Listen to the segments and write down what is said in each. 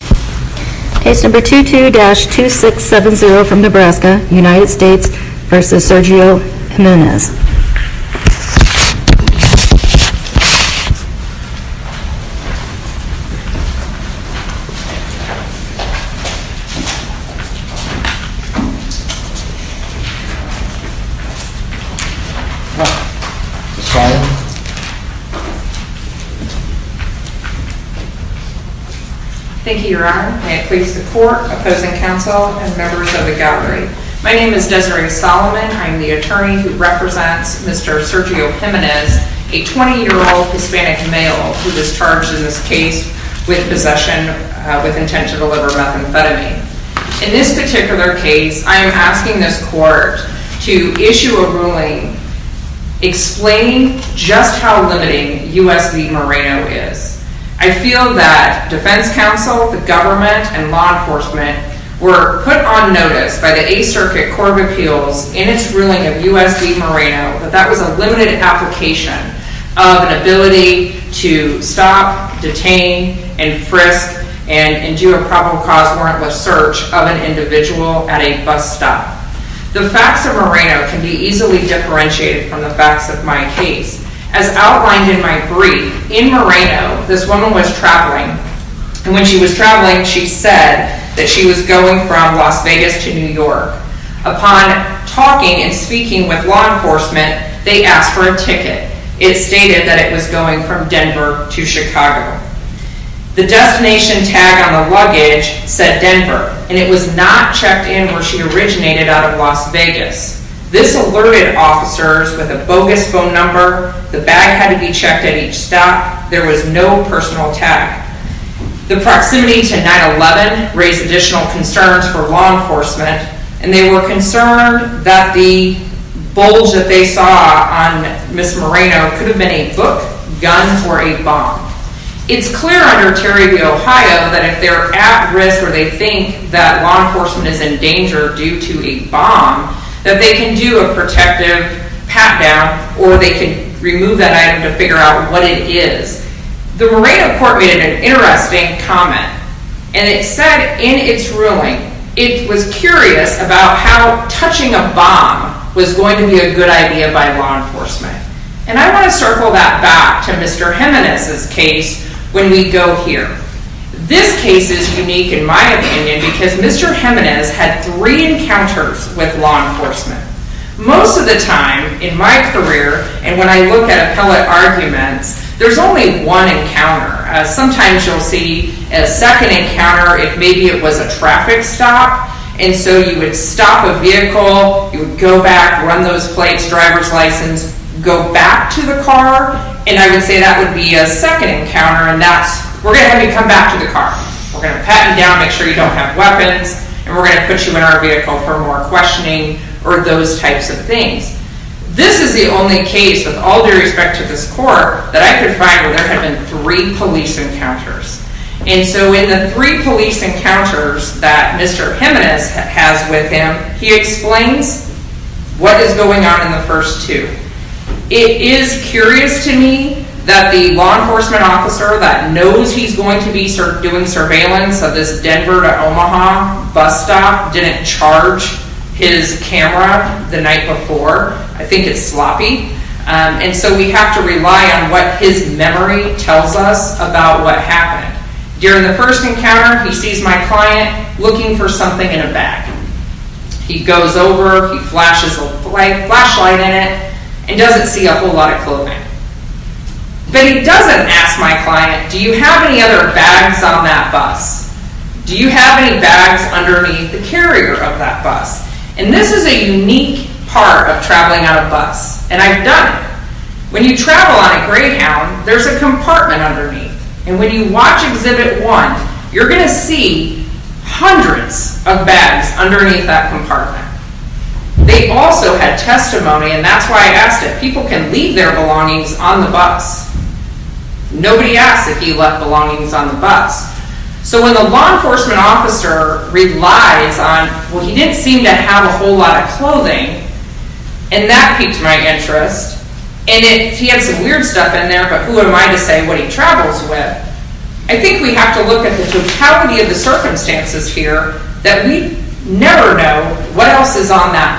Case No. 22-2670 from Nebraska, United States v. Sergio Jimenez Thank you, Your Honor. May it please the Court, Opposing Counsel, and members of the defense, Mr. Sergio Jimenez, a 20-year-old Hispanic male who was charged in this case with possession with intent to deliver methamphetamine. In this particular case, I am asking this Court to issue a ruling explaining just how limiting U.S. v. Moreno is. I feel that Defense Counsel, the government, and law enforcement were put on notice by the Eighth Circuit Court of Appeals in its ruling of U.S. v. Moreno that that was a limited application of an ability to stop, detain, and frisk, and do a probable cause warrantless search of an individual at a bus stop. The facts of Moreno can be easily differentiated from the facts of my case. As outlined in my brief, in Moreno, this woman was traveling, and when she was and speaking with law enforcement, they asked for a ticket. It stated that it was going from Denver to Chicago. The destination tag on the luggage said Denver, and it was not checked in where she originated out of Las Vegas. This alerted officers with a bogus phone number. The bag had to be checked at each stop. There was no personal tag. The officers were concerned that the bulge that they saw on Ms. Moreno could have been a book, gun, or a bomb. It's clear under Terry v. Ohio that if they're at risk or they think that law enforcement is in danger due to a bomb, that they can do a protective pat-down or they can remove that item to figure out what it is. The Moreno Court made an interesting comment, and it said in its ruling, it was curious about how touching a bomb was going to be a good idea by law enforcement. And I want to circle that back to Mr. Jimenez's case when we go here. This case is unique in my opinion because Mr. Jimenez had three encounters with law enforcement. Most of the time in my career, and when I look at appellate arguments, there's only one encounter. Sometimes you'll see a second encounter if maybe it was a traffic stop, and so you would stop a vehicle, you would go back, run those plates, driver's license, go back to the car, and I would say that would be a second encounter, and that's, we're going to have you come back to the car. We're going to pat you down, make sure you don't have weapons, and we're going to put you in our vehicle for more questioning or those types of things. This is the only case with all due respect to this court that I could find where there had been three police encounters. And so in the three police encounters that Mr. Jimenez has with him, he explains what is going on in the first two. It is curious to me that the law enforcement officer that knows he's going to be doing surveillance of this Denver to Omaha bus stop didn't charge his camera the night before. I think it's sloppy. And so we have to rely on what his memory tells us about what happened. During the first encounter, he sees my client looking for something in a bag. He goes over, he flashes a flashlight in it, and doesn't see a whole lot of clothing. But he doesn't ask my client, do you have any other bags on that bus? Do you have any bags underneath the carrier of that bus? And this is a unique part of traveling on a bus. And I've done it. When you travel on a Greyhound, there's a compartment underneath. And when you watch Exhibit 1, you're going to see hundreds of bags underneath that compartment. They also had testimony, and that's why I left my belongings on the bus. Nobody asks if you left belongings on the bus. So when the law enforcement officer relies on, well, he didn't seem to have a whole lot of clothing, and that piques my interest, and he had some weird stuff in there, but who am I to say what he travels with? I think we have to look at the totality of the circumstances here that we never know what else is on that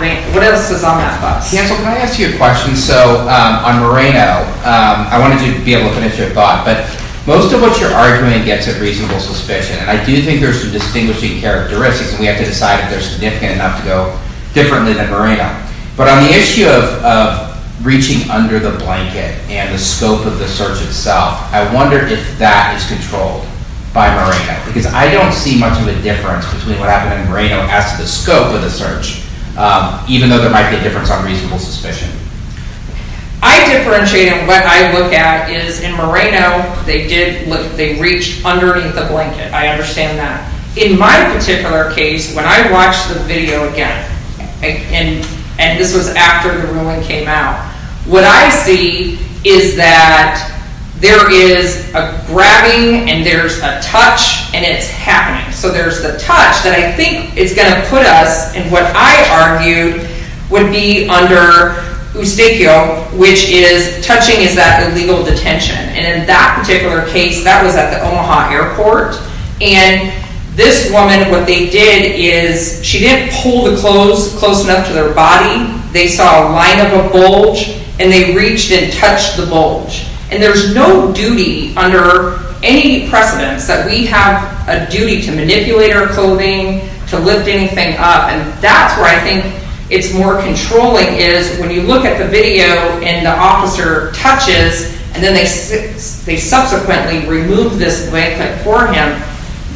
bus. Cancel, can I ask you a question? So on Moreno, I wanted to be able to finish your thought, but most of what you're arguing gets at reasonable suspicion. And I do think there's some distinguishing characteristics, and we have to decide if they're significant enough to go differently than Moreno. But on the issue of reaching under the blanket and the scope of the search itself, I wonder if that is controlled by Moreno. Because I don't see much of a difference between what happened in Moreno as to the scope of the search, even though there might be a difference on reasonable suspicion. I differentiate, and what I look at is in Moreno, they did look, they reached underneath the blanket. I understand that. In my particular case, when I watched the video again, and this was after the ruling came out, what I see is that there is a grabbing, and there's a touch, and it's happening. So there's the tendency under Eustachio, which is touching is that illegal detention. And in that particular case, that was at the Omaha airport. And this woman, what they did is she didn't pull the clothes close enough to their body. They saw a line of a bulge, and they reached and touched the bulge. And there's no duty under any precedence that we have a duty to manipulate our clothing, to lift anything up. And that's where I think it's more controlling, is when you look at the video, and the officer touches, and then they subsequently remove this blanket for him,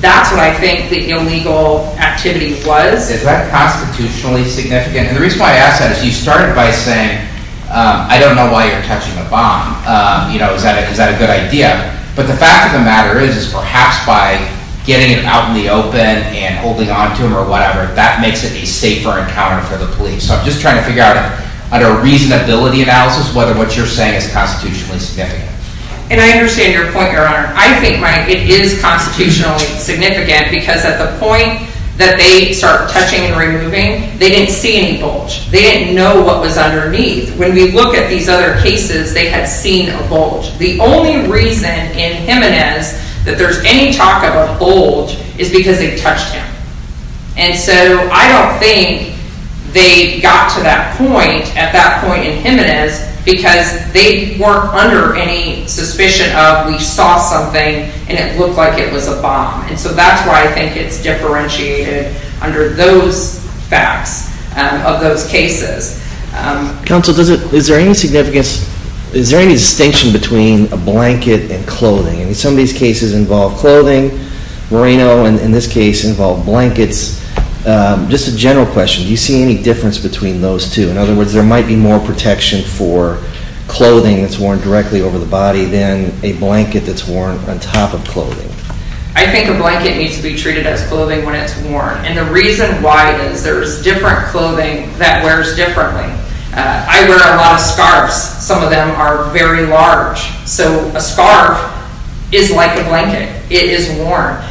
that's what I think the illegal activity was. Is that constitutionally significant? And the reason why I ask that is you started by saying, I don't know why you're touching the bomb. Is that a good idea? But the fact of getting it out in the open and holding on to him or whatever, that makes it a safer encounter for the police. So I'm just trying to figure out, under a reasonability analysis, whether what you're saying is constitutionally significant. And I understand your point, Your Honor. I think it is constitutionally significant, because at the point that they start touching and removing, they didn't see any bulge. They didn't know what was underneath. When we look at these other cases, they had seen a bulge. The only reason in Jimenez that there's any talk of a bulge is because they touched him. And so I don't think they got to that point, at that point in Jimenez, because they weren't under any suspicion of, we saw something and it looked like it was a bomb. And so that's why I think it's differentiated under those facts of those cases. Counsel, is there any distinction between a blanket and clothing? I mean, some of these cases involve clothing. Moreno, in this case, involved blankets. Just a general question, do you see any difference between those two? In other words, there might be more protection for clothing that's worn directly over the body than a blanket that's worn on top of clothing. I think a blanket needs to be treated as clothing when it's worn. And the reason why is there's different clothing that wears differently. I wear a lot of scarves. Some of them are very large. So a scarf is like a blanket. It is worn.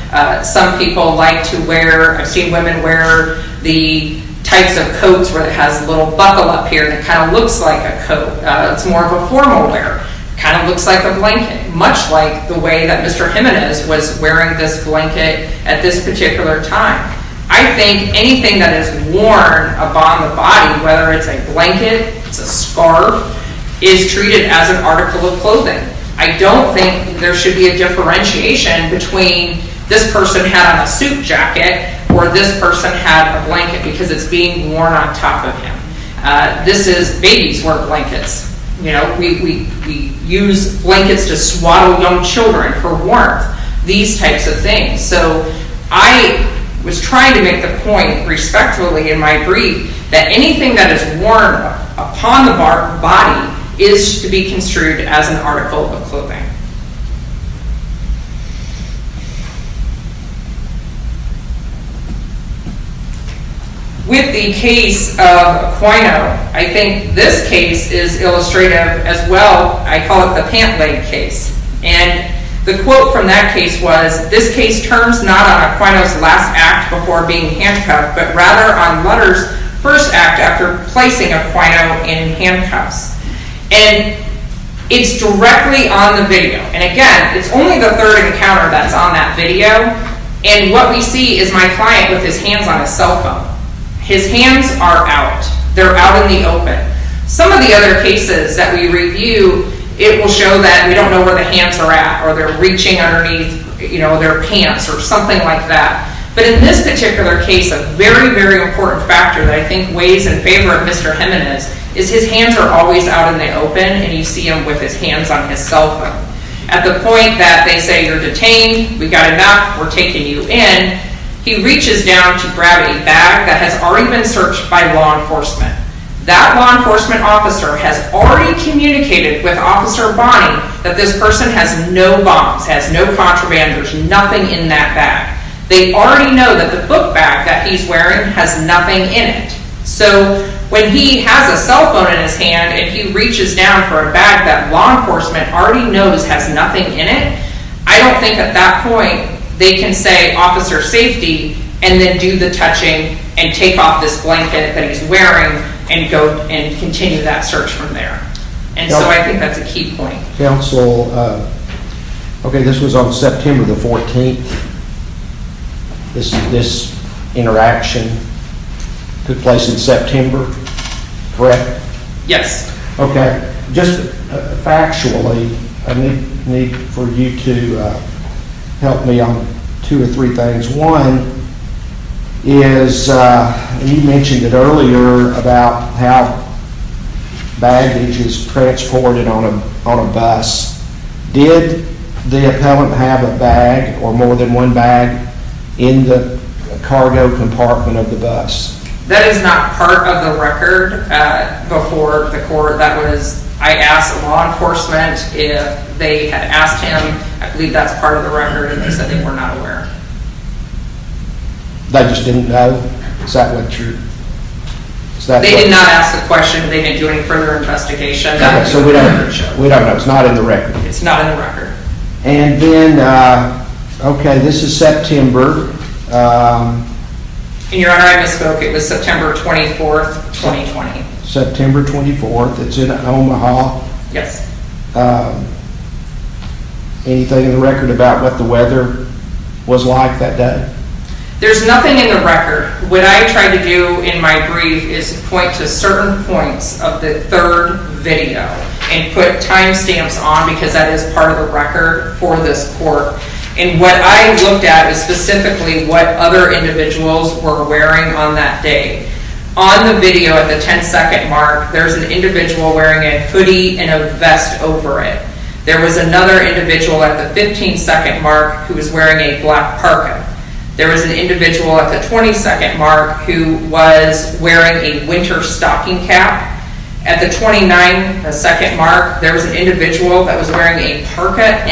Some people like to wear, I've seen women wear the types of coats where it has a little buckle up here that kind of looks like a coat. It's more of a formal wear. Kind of looks like a blanket. Much like the way that Mr. Jimenez was wearing this blanket at this particular time. I think anything that is worn upon the body, whether it's a blanket, it's a scarf, is treated as an article of clothing. I don't think there should be a differentiation between this person had on a suit jacket or this person had a blanket because it's being worn on top of him. This is, babies wear blankets. We use blankets to swaddle young children for warmth. These types of things. So I was trying to make the point respectfully in my brief that anything that is worn upon the body is to be construed as an article of clothing. With the case of Aquino, I think this case is illustrative as well. I call it the pant case was, this case turns not on Aquino's last act before being handcuffed, but rather on Lutter's first act after placing Aquino in handcuffs. And it's directly on the video. And again, it's only the third encounter that's on that video and what we see is my client with his hands on his cell phone. His hands are out. They're out in the open. Some of the other cases that we review, it will show that we don't know where the hands are at or they're reaching underneath their pants or something like that. But in this particular case, a very, very important factor that I think weighs in favor of Mr. Jimenez is his hands are always out in the open and you see him with his hands on his cell phone at the point that they say, you're detained. We got enough. We're taking you in. He reaches down to grab a bag that has already been searched by law enforcement. That law enforcement officer has already communicated with Officer Bonnie that this person has no bombs, has no contraband, there's nothing in that bag. They already know that the book bag that he's wearing has nothing in it. So when he has a cell phone in his hand and he reaches down for a bag that law enforcement already knows has nothing in it, I don't think at that point they can say, officer safety, and then do the touching and take off this blanket that they already know and continue that search from there. And so I think that's a key point. Counsel, okay, this was on September the 14th. This interaction took place in September, correct? Yes. Okay. Just factually, I need for you to help me on two or three things. One is, you mentioned it earlier about how baggage is transported on a bus. Did the appellant have a bag or more than one bag in the cargo compartment of the bus? That is not part of the record before the court. That was, I asked law enforcement if they had asked him, I believe that's part of the record, and they said they were not aware. They just didn't know? Is that what you're... They did not ask the question. They didn't do any further investigation. Okay, so we don't know. It's not in the record. It's not in the record. And then, okay, this is September. In your honor, I misspoke. It was September 24th, 2020. September 24th. It's in Omaha. Yes. Anything in the record about what the weather was like that day? There's nothing in the record. What I tried to do in my brief is point to certain points of the third video and put time stamps on because that is part of the record for this court. And what I looked at is specifically what other individuals were wearing on that day. On the video at the 10-second mark, there's an individual wearing a hoodie and a vest over it. There was another individual at the 15-second mark who was wearing a black parka. There was an individual at the 20-second mark who was wearing a winter stocking cap. At the 29-second mark, there was an individual that was wearing a car park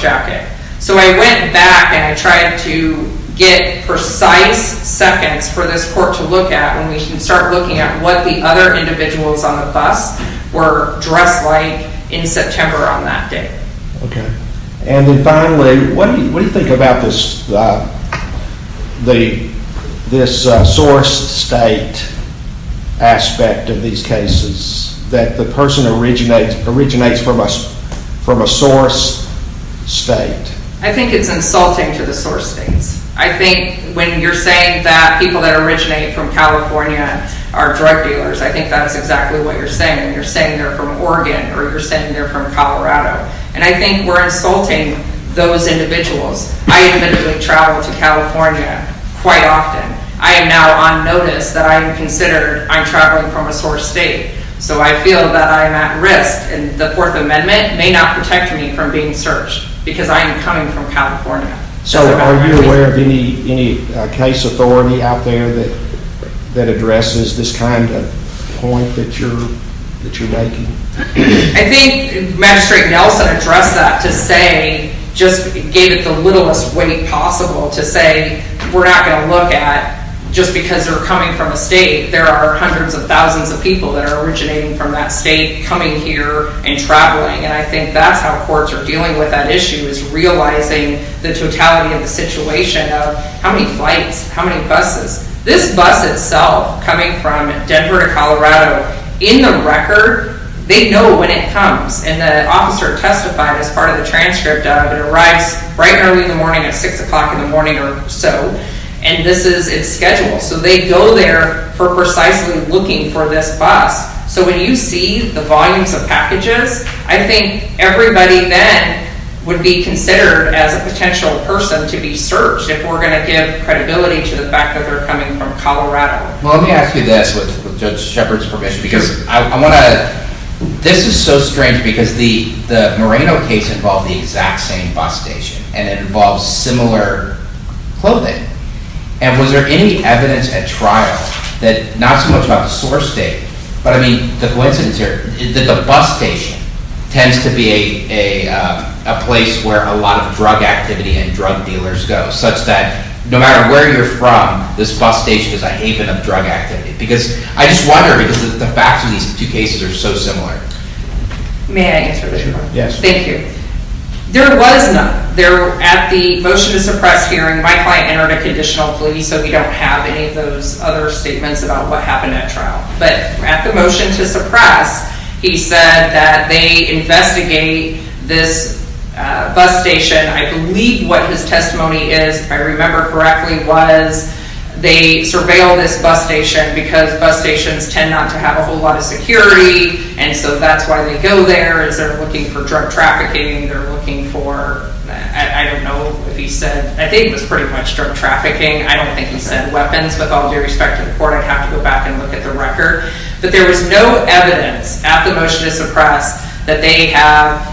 jacket. So I went back and I tried to get precise seconds for this court to look at when we can start looking at what the other individuals on the bus were dressed like in September on that day. Okay. And then finally, what do you think about this source state aspect of these cases that the person originates from a source state? I think it's insulting to the source states. I think when you're saying that people that originate from California are drug dealers, I think that's exactly what you're saying. You're saying they're from Oregon or you're saying they're from Colorado. And I think we're insulting those individuals. I individually travel to California quite often. I am now on notice that I am considered I'm traveling from a source state. So I feel that I am at risk and the Fourth Amendment may not protect me from being searched because I am coming from California. So are you aware of any case authority out there that addresses this kind of point that you're making? I think Magistrate Nelson addressed that to say, just gave it the littlest weight possible to say we're not going to look at just because they're coming from a state. There are hundreds of thousands of people that are originating from that state coming here and traveling. And I think that's how courts are dealing with that issue is realizing the totality of the situation of how many flights, how many buses. This bus itself coming from Denver to Colorado, in the record, they know when it comes. And the officer testified as part of the transcript of it arrives right early in the morning at 6 o'clock in the morning or so. And this is its schedule. So they go there for precisely looking for this bus. So when you see the volumes of packages, I think everybody then would be considered as a potential person to be searched if we're going to give credibility to the fact that they're coming from Colorado. Well, let me ask you this with Judge Shepard's permission because I want to, this is so strange because the Moreno case involved the exact same bus station and it involves similar clothing. And was there any evidence at trial that, not so much about the source state, but I mean the coincidence here, that the bus station tends to be a place where a lot of drug activity and drug dealers go such that no matter where you're from, this bus station is a haven of drug activity? Because I just wonder because the facts of these two cases are so similar. May I answer this? Yes. Thank you. There was none. At the motion to suppress hearing, my client entered a conditional plea so we don't have any of those other statements about what happened at trial. But at the motion to suppress, he said that they investigate this bus station. I believe what his testimony is, if I remember correctly, was they surveilled this bus station because bus stations tend not to have a whole lot of security and so that's why they go there is they're looking for drug trafficking. They're looking for, I don't know if he said, I think it was pretty much drug trafficking. I don't think he said weapons. With all due respect to the court, I would have to go back and look at the record. But there was no evidence at the motion to suppress that they have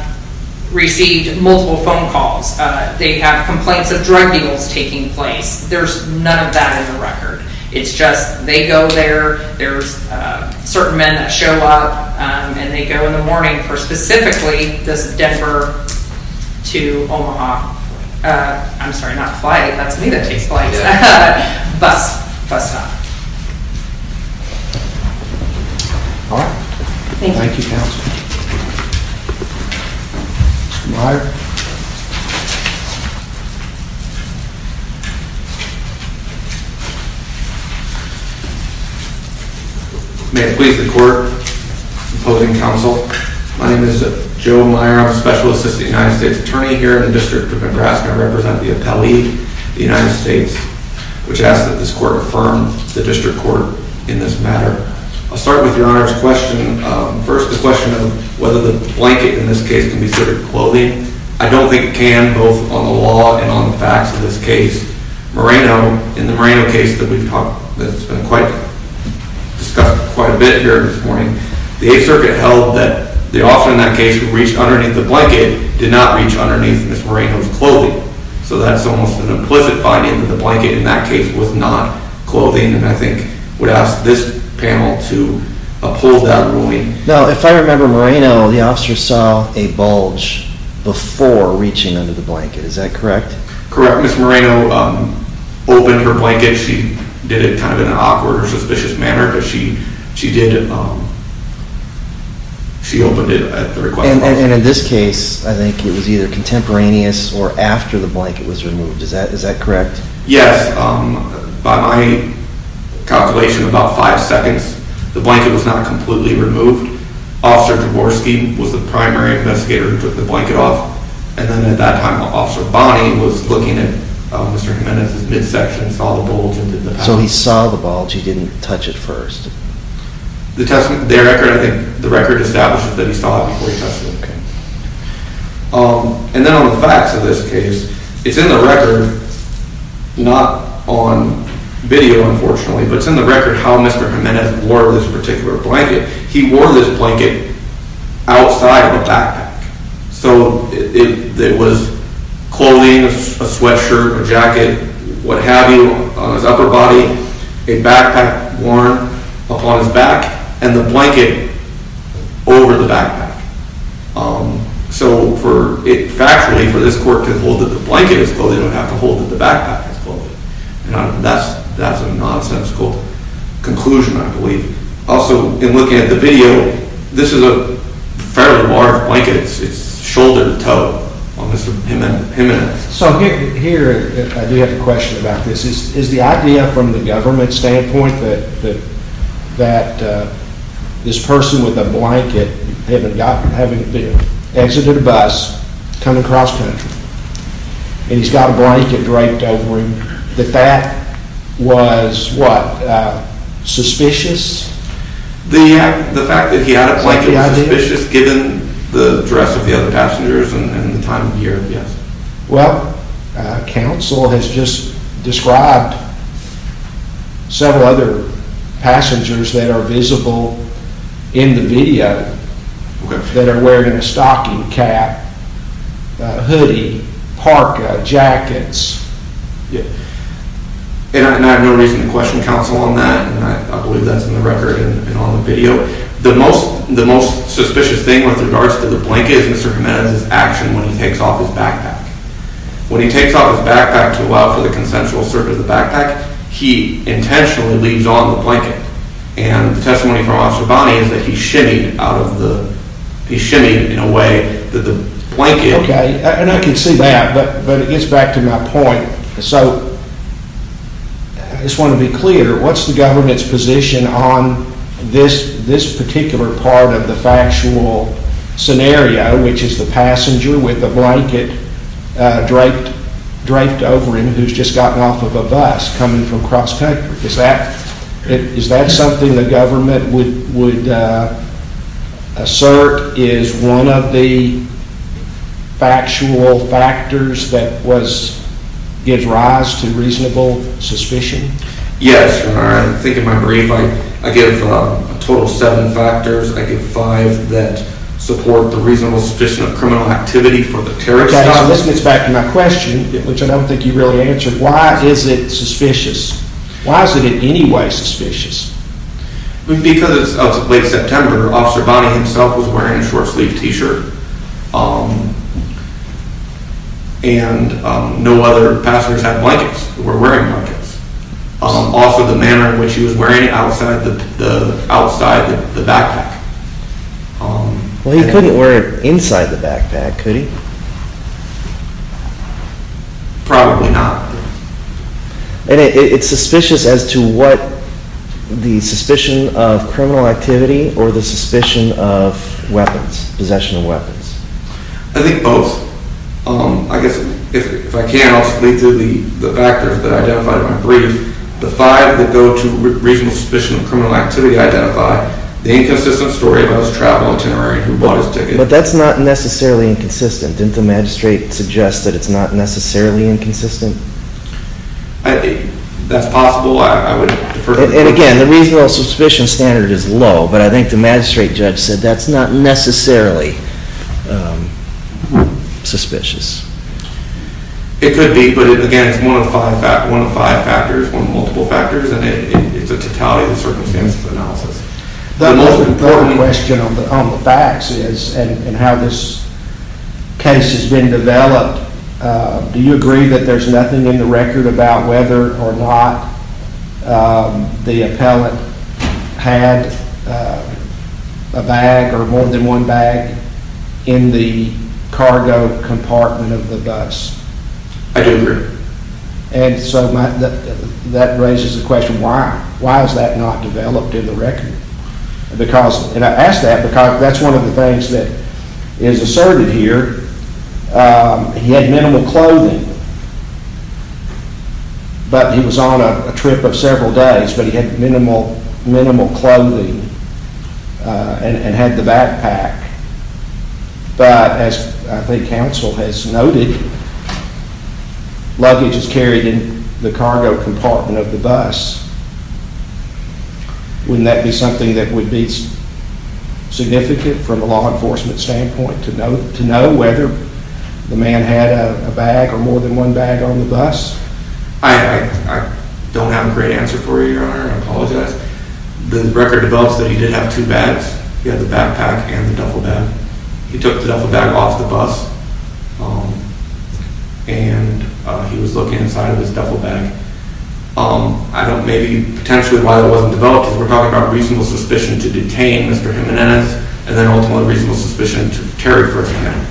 received multiple phone calls. They have complaints of drug deals taking place. There's none of that in the record. It's just they go there, there's certain men that show up and they go in the morning for specifically this Denver to Omaha, I'm sorry, not flight, that's me that takes flights, bus stop. Alright, thank you counsel. May it please the court, opposing counsel, my name is Joe Meyer, I'm a special assistant United States attorney here in the District of Nebraska. I represent the appellee, the United States, which asks that this court affirm the district court in this matter. I'll start with your Honor's question. First, the question of whether the blanket in this case can be served with clothing. I don't think it can, both on the law and on the facts of this case. Moreno, in the Moreno case that we've talked, that's been quite, discussed quite a bit here this morning, the 8th Circuit held that the officer in that case who reached underneath the blanket did not reach underneath Ms. Moreno's clothing. So that's almost an implicit finding that the blanket in that case was not clothing and I think would ask this panel to uphold that ruling. Now if I remember Moreno, the officer saw a bulge before reaching under the blanket, is that correct? Correct, Ms. Moreno opened her blanket, she did it kind of in an awkward or suspicious manner, but she did, she opened it at the request of the officer. And in this case, I think it was either contemporaneous or after the blanket was removed, is that correct? Yes, by my calculation, about 5 seconds, the blanket was not completely removed, Officer Jaworski was the primary investigator who took the blanket off, and then at that time Officer Bonney was looking at Mr. Jimenez's midsection, saw the bulge and did the panel first. The record establishes that he saw it before he touched it. And then on the facts of this case, it's in the record, not on video unfortunately, but it's in the record how Mr. Jimenez wore this particular blanket. He wore this blanket outside the backpack, so it was clothing, a sweatshirt, a jacket, what have you, on his upper body, a backpack worn upon his back, and the blanket over the backpack. So factually, for this court to hold that the blanket was clothing, it would have to hold that the backpack was clothing. And that's a nonsensical conclusion, I believe. Also, in looking at the video, this is a fairly large blanket, it's shoulder to toe on Mr. Jimenez. So here, I do have a question about this. Is the idea from the government standpoint that this person with a blanket, having exited a bus, coming across country, and he's got a blanket draped over him, that that was, what, suspicious? The fact that he had a blanket was suspicious given the dress of the other passengers and the time of year, yes. Well, counsel has just described several other passengers that are visible in the video that are wearing a stocking cap, hoodie, parka, jackets. And I have no reason to question counsel on that, and I believe that's in the record and on the video. The most suspicious thing with regards to the blanket is Mr. Jimenez's action when he takes off his backpack. When he takes off his backpack to allow for the consensual service of the backpack, he intentionally leaves on the blanket. And the testimony from Officer Bonney is that he shimmied out of the, he shimmied in a way that the blanket Okay, and I can see that, but it gets back to my point. So, I just want to be clear, what's the government's position on this particular part of the factual scenario, which is the passenger with the blanket draped over him who's just gotten off of a bus coming from cross country. Is that something the government would assert is one of the factual factors that gives rise to reasonable suspicion? Yes, I think in my brief I give a total of seven factors. I give five that support the reasonable suspicion of criminal activity for the terrorist. Okay, so this gets back to my question, which I don't think you really answered. Why is it suspicious? Why is it in any way suspicious? Because of late September, Officer Bonney himself was wearing a short-sleeved t-shirt and no other passengers had blankets, were wearing blankets. Also, the manner in which he was wearing it outside the backpack. Well, he couldn't wear it inside the backpack, could he? Probably not. And it's suspicious as to what the suspicion of criminal activity or the suspicion of weapons, possession of weapons? I think both. I guess if I can, I'll just lead to the factors that I identified in my brief. The five that go to reasonable suspicion of criminal activity identify the inconsistent story about his travel itinerary, who bought his ticket. But that's not necessarily inconsistent. Didn't the magistrate suggest that it's not necessarily inconsistent? That's possible. I would defer to the magistrate. And again, the reasonable suspicion standard is low, but I think the magistrate judge said that's not necessarily suspicious. It could be, but again, it's one of five factors, one of multiple factors, and it's a totality of the circumstances of the analysis. The most important question on the facts is, and how this case has been developed, do you agree that there's nothing in the record about whether or not the appellant had a bag or more than one bag in the cargo compartment of the bus? I do agree. And so that raises the question, why? Why is that not developed in the record? Because, and I ask that because that's one of the things that is asserted here. He had minimal clothing, but he was on a trip of several days, but he had minimal clothing and had the backpack. But as I think counsel has noted, luggage is carried in the cargo compartment of the bus. Wouldn't that be something that would be significant from a law enforcement standpoint to know whether the man had a bag or more than one bag on the bus? I don't have a great answer for you, Your Honor. I apologize. The record develops that he did have two bags. He had the backpack and the duffel bag. He took the duffel bag off the bus and he was looking inside of his duffel bag. I don't, maybe potentially why it wasn't developed is we're talking about reasonable suspicion to detain Mr. Jimenez and then ultimately reasonable suspicion to carry for him.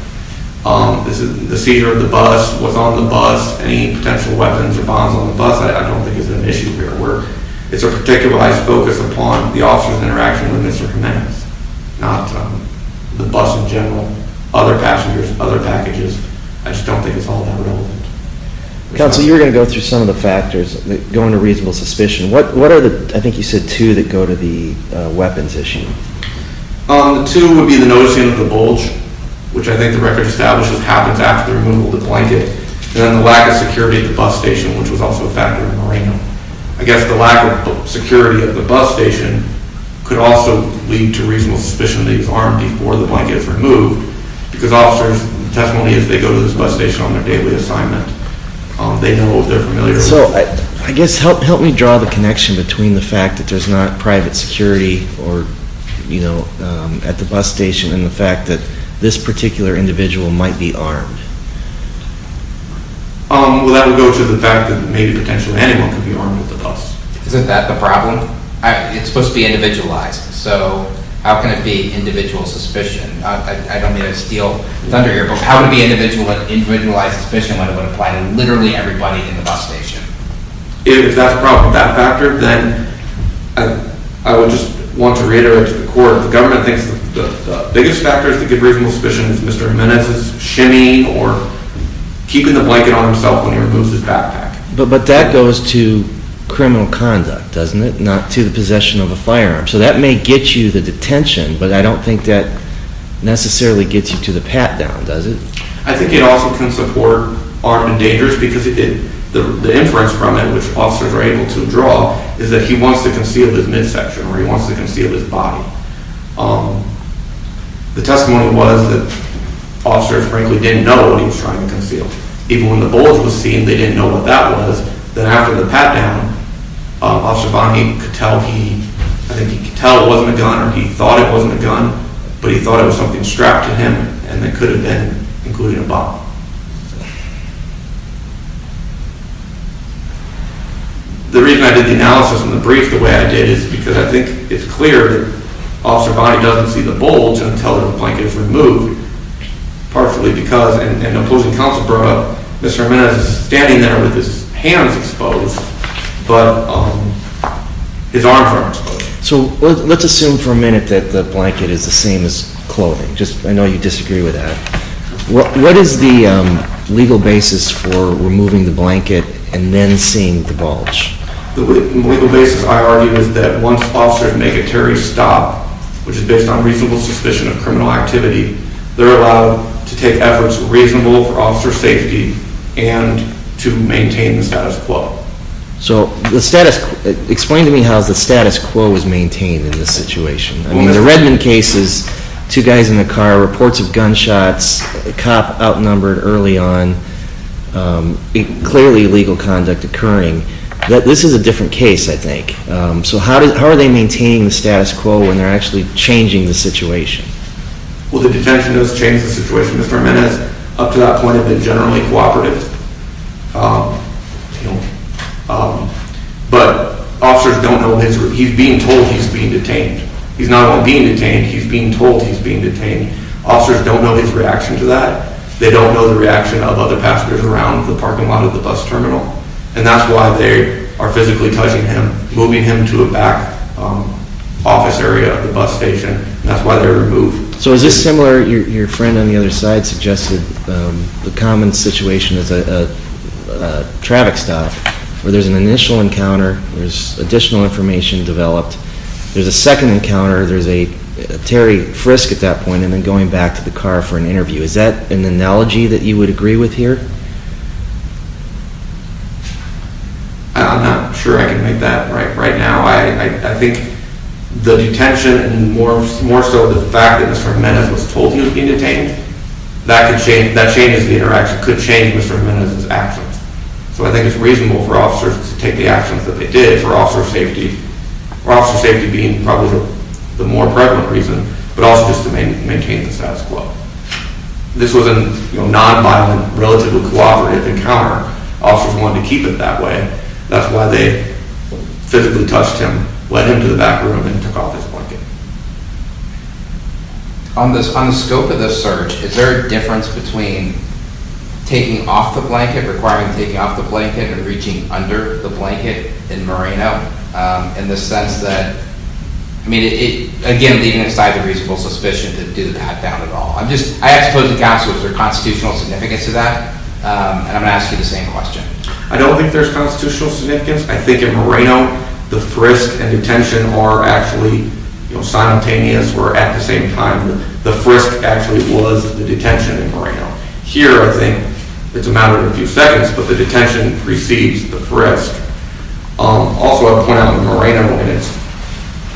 The seizure of the bus was on the bus. Any potential weapons or bombs on the bus I don't think is an issue here at work. It's a particularized focus upon the officer's interaction with Mr. Jimenez, not the bus in general, other passengers, other packages. I just don't think it's all that relevant. Counsel, you were going to go through some of the factors that go into reasonable suspicion. What are the, I think you said, two that go to the weapons issue? The two would be the noticing of the bulge, which I think the record establishes happens after the removal of the blanket, and then the lack of security at the bus station, which was also a factor in Moreno. I guess the lack of security at the bus station could also lead to reasonable suspicion that he was armed before the blanket was removed because officers, the testimony is they go to this bus station on their daily assignment. They know what they're familiar with. So I guess help me draw the connection between the fact that there's not private security at the bus station and the fact that this particular individual might be armed. Well, that would go to the fact that maybe potentially anyone could be armed at the bus. Isn't that the problem? It's supposed to be individualized. So how can it be individual suspicion? I don't mean to steal thunder here, but how can it be individualized suspicion when it would apply to literally everybody in the bus station? If that's a problem with that factor, then I would just want to reiterate to the court the government thinks the biggest factor to give reasonable suspicion is Mr. Jimenez's shimmy or keeping the blanket on himself when he removes his backpack. But that goes to criminal conduct, doesn't it, not to the possession of a firearm. So that may get you to detention, but I don't think that necessarily gets you to the pat-down, does it? I think it also can support armed and dangerous because the inference from it, which officers are able to draw, is that he wants to conceal his midsection or he wants to conceal his body. The testimony was that officers frankly didn't know what he was trying to conceal. Even when the bullet was seen, they didn't know what that was. Then after the pat-down, Officer Bonney could tell he, I think he could tell it wasn't a gun or he thought it wasn't a gun, but he thought it was something strapped to him and it could have been, including a bottle. The reason I did the analysis and the brief the way I did is because I think it's clear Officer Bonney doesn't see the bullet until the blanket is removed, partially because an opposing counsel brought up Mr. Jimenez is standing there with his hands exposed, but his arms aren't exposed. So let's assume for a minute that the blanket is the same as clothing. I know you disagree with that. What is the legal basis for removing the blanket and then seeing the bulge? The legal basis, I argue, is that once officers make a terrorist stop, which is based on reasonable suspicion of criminal activity, they're allowed to take efforts reasonable for officer safety and to maintain the status quo. So explain to me how the status quo is maintained in this situation. I mean, the Redmond case is two guys in the car, reports of gunshots, a cop outnumbered early on, clearly illegal conduct occurring. This is a different case, I think. So how are they maintaining the status quo when they're actually changing the situation? Well, the detention does change the situation. Mr. Jimenez, up to that point, had been generally cooperative. But officers don't know his—he's being told he's being detained. He's not only being detained, he's being told he's being detained. Officers don't know his reaction to that. They don't know the reaction of other passengers around the parking lot of the bus terminal, and that's why they are physically touching him, moving him to a back office area of the bus station, and that's why they remove. So is this similar—your friend on the other side suggested the common situation is a traffic stop, where there's an initial encounter, there's additional information developed, there's a second encounter, there's a Terry frisk at that point, and then going back to the car for an interview. Is that an analogy that you would agree with here? I'm not sure I can make that right right now. I think the detention and more so the fact that Mr. Jimenez was told he was being detained, that changes the interaction, could change Mr. Jimenez's actions. So I think it's reasonable for officers to take the actions that they did for officer safety, for officer safety being probably the more prevalent reason, but also just to maintain the status quo. This was a non-violent, relatively cooperative encounter. Officers wanted to keep it that way. That's why they physically touched him, went into the back room, and took off his blanket. On the scope of this search, is there a difference between taking off the blanket, requiring taking off the blanket, and reaching under the blanket in Moreno, in the sense that—I mean, again, leaving aside the reasonable suspicion to do that down at all. I'm just—I ask both the counsel, is there constitutional significance to that? And I'm going to ask you the same question. I don't think there's constitutional significance. I think in Moreno, the frisk and detention are actually simultaneous, where at the same time, the frisk actually was the detention in Moreno. Here, I think it's a matter of a few seconds, but the detention precedes the frisk. Also, I'll point out in Moreno, and it's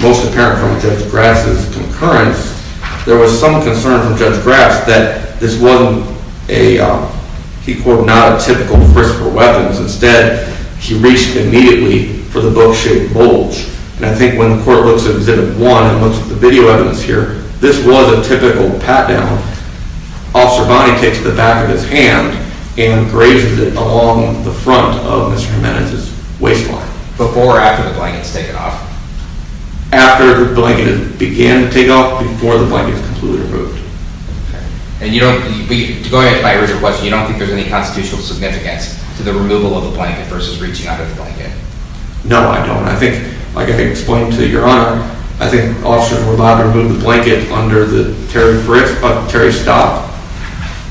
most apparent from Judge Grass's concurrence, there was some concern from Judge Grass that this wasn't a—he called it not a typical frisk for weapons. Instead, he reached immediately for the book-shaped bulge. And I think when the court looks at Exhibit 1 and looks at the video evidence here, this was a typical pat-down. Officer Bonney takes the back of his hand and grazes it along the front of Mr. Jimenez's waistline. Before or after the blanket's taken off? After the blanket began to take off, before the blanket was completely removed. And you don't—to go ahead and rephrase your question, you don't think there's any constitutional significance to the removal of the blanket versus reaching out of the blanket? No, I don't. I think, like I explained to Your Honor, I think officers were allowed to remove the blanket under the Terry frisk, but Terry stopped.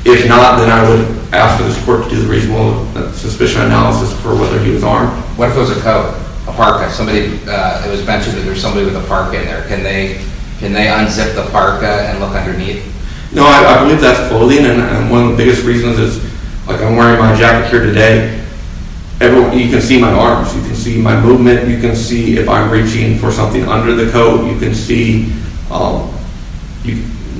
If not, then I would ask for this court to do the reasonable suspicion analysis for whether he was armed. What if it was a coat, a parka? Somebody—it was mentioned that there was somebody with a parka in there. Can they unzip the parka and look underneath? No, I believe that's clothing, and one of the biggest reasons is, like, I'm wearing my jacket here today. You can see my arms. You can see my movement. You can see if I'm reaching for something under the coat. You can see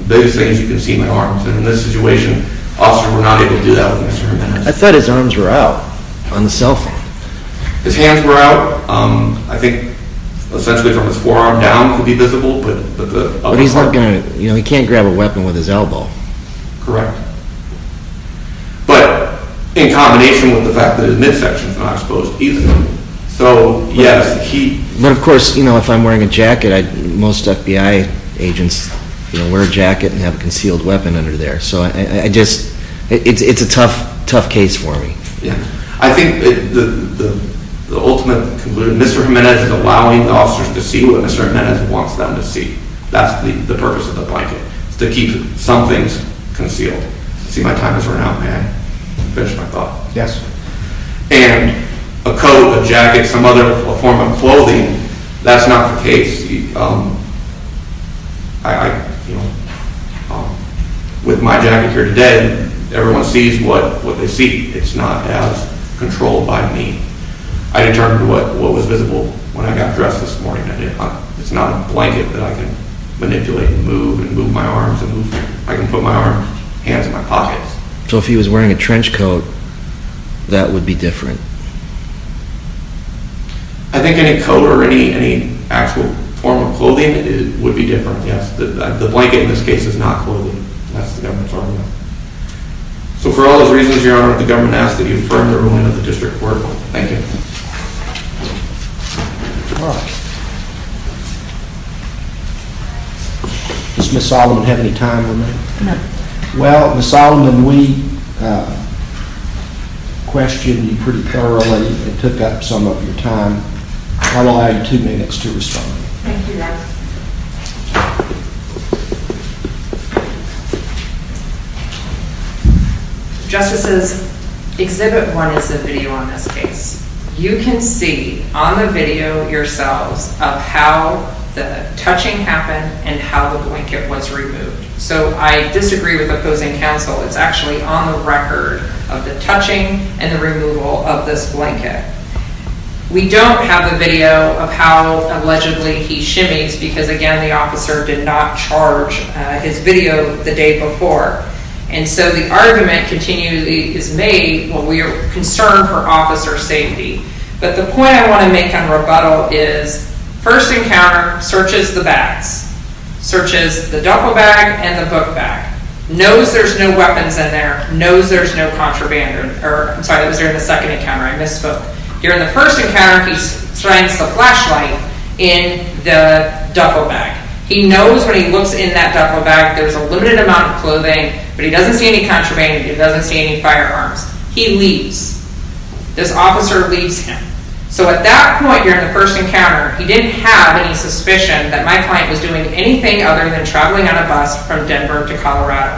those things. You can see my arms. And in this situation, officers were not able to do that with Mr. Jimenez. I thought his arms were out on the cell phone. His hands were out. I think essentially from his forearm down could be visible, but the other part— But he's not going to—you know, he can't grab a weapon with his elbow. Correct. But in combination with the fact that his midsection is not exposed either, so yes, he— But, of course, you know, if I'm wearing a jacket, most FBI agents, you know, wear a jacket and have a concealed weapon under there. So I just—it's a tough, tough case for me. Yeah. I think the ultimate—Mr. Jimenez is allowing officers to see what Mr. Jimenez wants them to see. That's the purpose of the blanket, to keep some things concealed. See, my time is running out, man. Let me finish my thought. Yes. And a coat, a jacket, some other form of clothing, that's not the case. With my jacket here today, everyone sees what they see. It's not as controlled by me. I determined what was visible when I got dressed this morning. It's not a blanket that I can manipulate and move and move my arms and move—I can put my hands in my pockets. So if he was wearing a trench coat, that would be different? I think any coat or any actual form of clothing would be different, yes. The blanket in this case is not clothing. That's the government's argument. So for all those reasons, Your Honor, the government asks that you affirm the ruling of the district court. Thank you. Does Ms. Solomon have any time on that? No. Well, Ms. Solomon, we questioned you pretty thoroughly and took up some of your time. I'll allow you two minutes to respond. Thank you, Your Honor. Justices, Exhibit 1 is the video on this case. You can see on the video yourselves of how the touching happened and how the blanket was removed. So I disagree with opposing counsel. It's actually on the record of the touching and the removal of this blanket. We don't have a video of how allegedly he shimmies because, again, the officer did not charge his video the day before. And so the argument continually is made, well, we are concerned for officer safety. But the point I want to make on rebuttal is first encounter searches the bags, searches the duffel bag and the book bag, knows there's no weapons in there, knows there's no contraband. I'm sorry, it was during the second encounter. I misspoke. During the first encounter, he finds the flashlight in the duffel bag. He knows when he looks in that duffel bag there's a limited amount of clothing, but he doesn't see any contraband. He doesn't see any firearms. He leaves. This officer leaves him. So at that point during the first encounter, he didn't have any suspicion that my client was doing anything other than traveling on a bus from Denver to Colorado.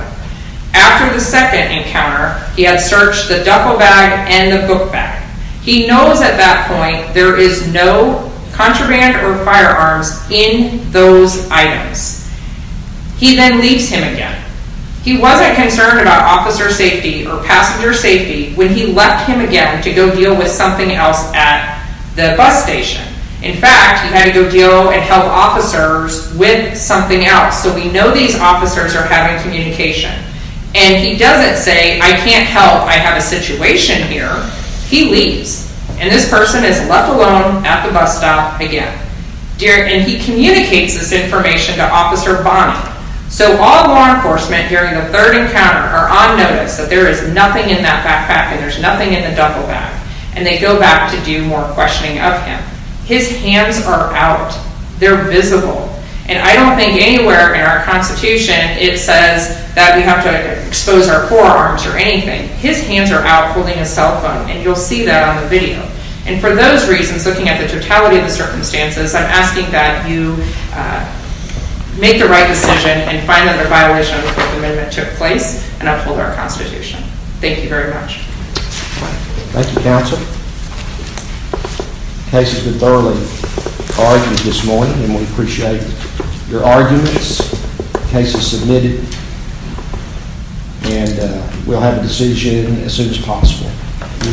After the second encounter, he had searched the duffel bag and the book bag. He knows at that point there is no contraband or firearms in those items. He then leaves him again. He wasn't concerned about officer safety or passenger safety when he left him again to go deal with something else at the bus station. In fact, he had to go deal and help officers with something else. So we know these officers are having communication. And he doesn't say, I can't help. I have a situation here. He leaves. And this person is left alone at the bus stop again. And he communicates this information to Officer Bonnie. So all law enforcement during the third encounter are on notice that there is nothing in that backpack and there's nothing in the duffel bag. And they go back to do more questioning of him. His hands are out. They're visible. And I don't think anywhere in our Constitution it says that we have to expose our forearms or anything. His hands are out holding a cell phone, and you'll see that on the video. And for those reasons, looking at the totality of the circumstances, I'm asking that you make the right decision and find that a violation of the Fourth Amendment took place and uphold our Constitution. Thank you very much. Thank you, Counsel. The case has been thoroughly argued this morning, and we appreciate your arguments. The case is submitted. And we'll have a decision as soon as possible. Thank you very much. Thank you. Thank you. Thank you. Thank you.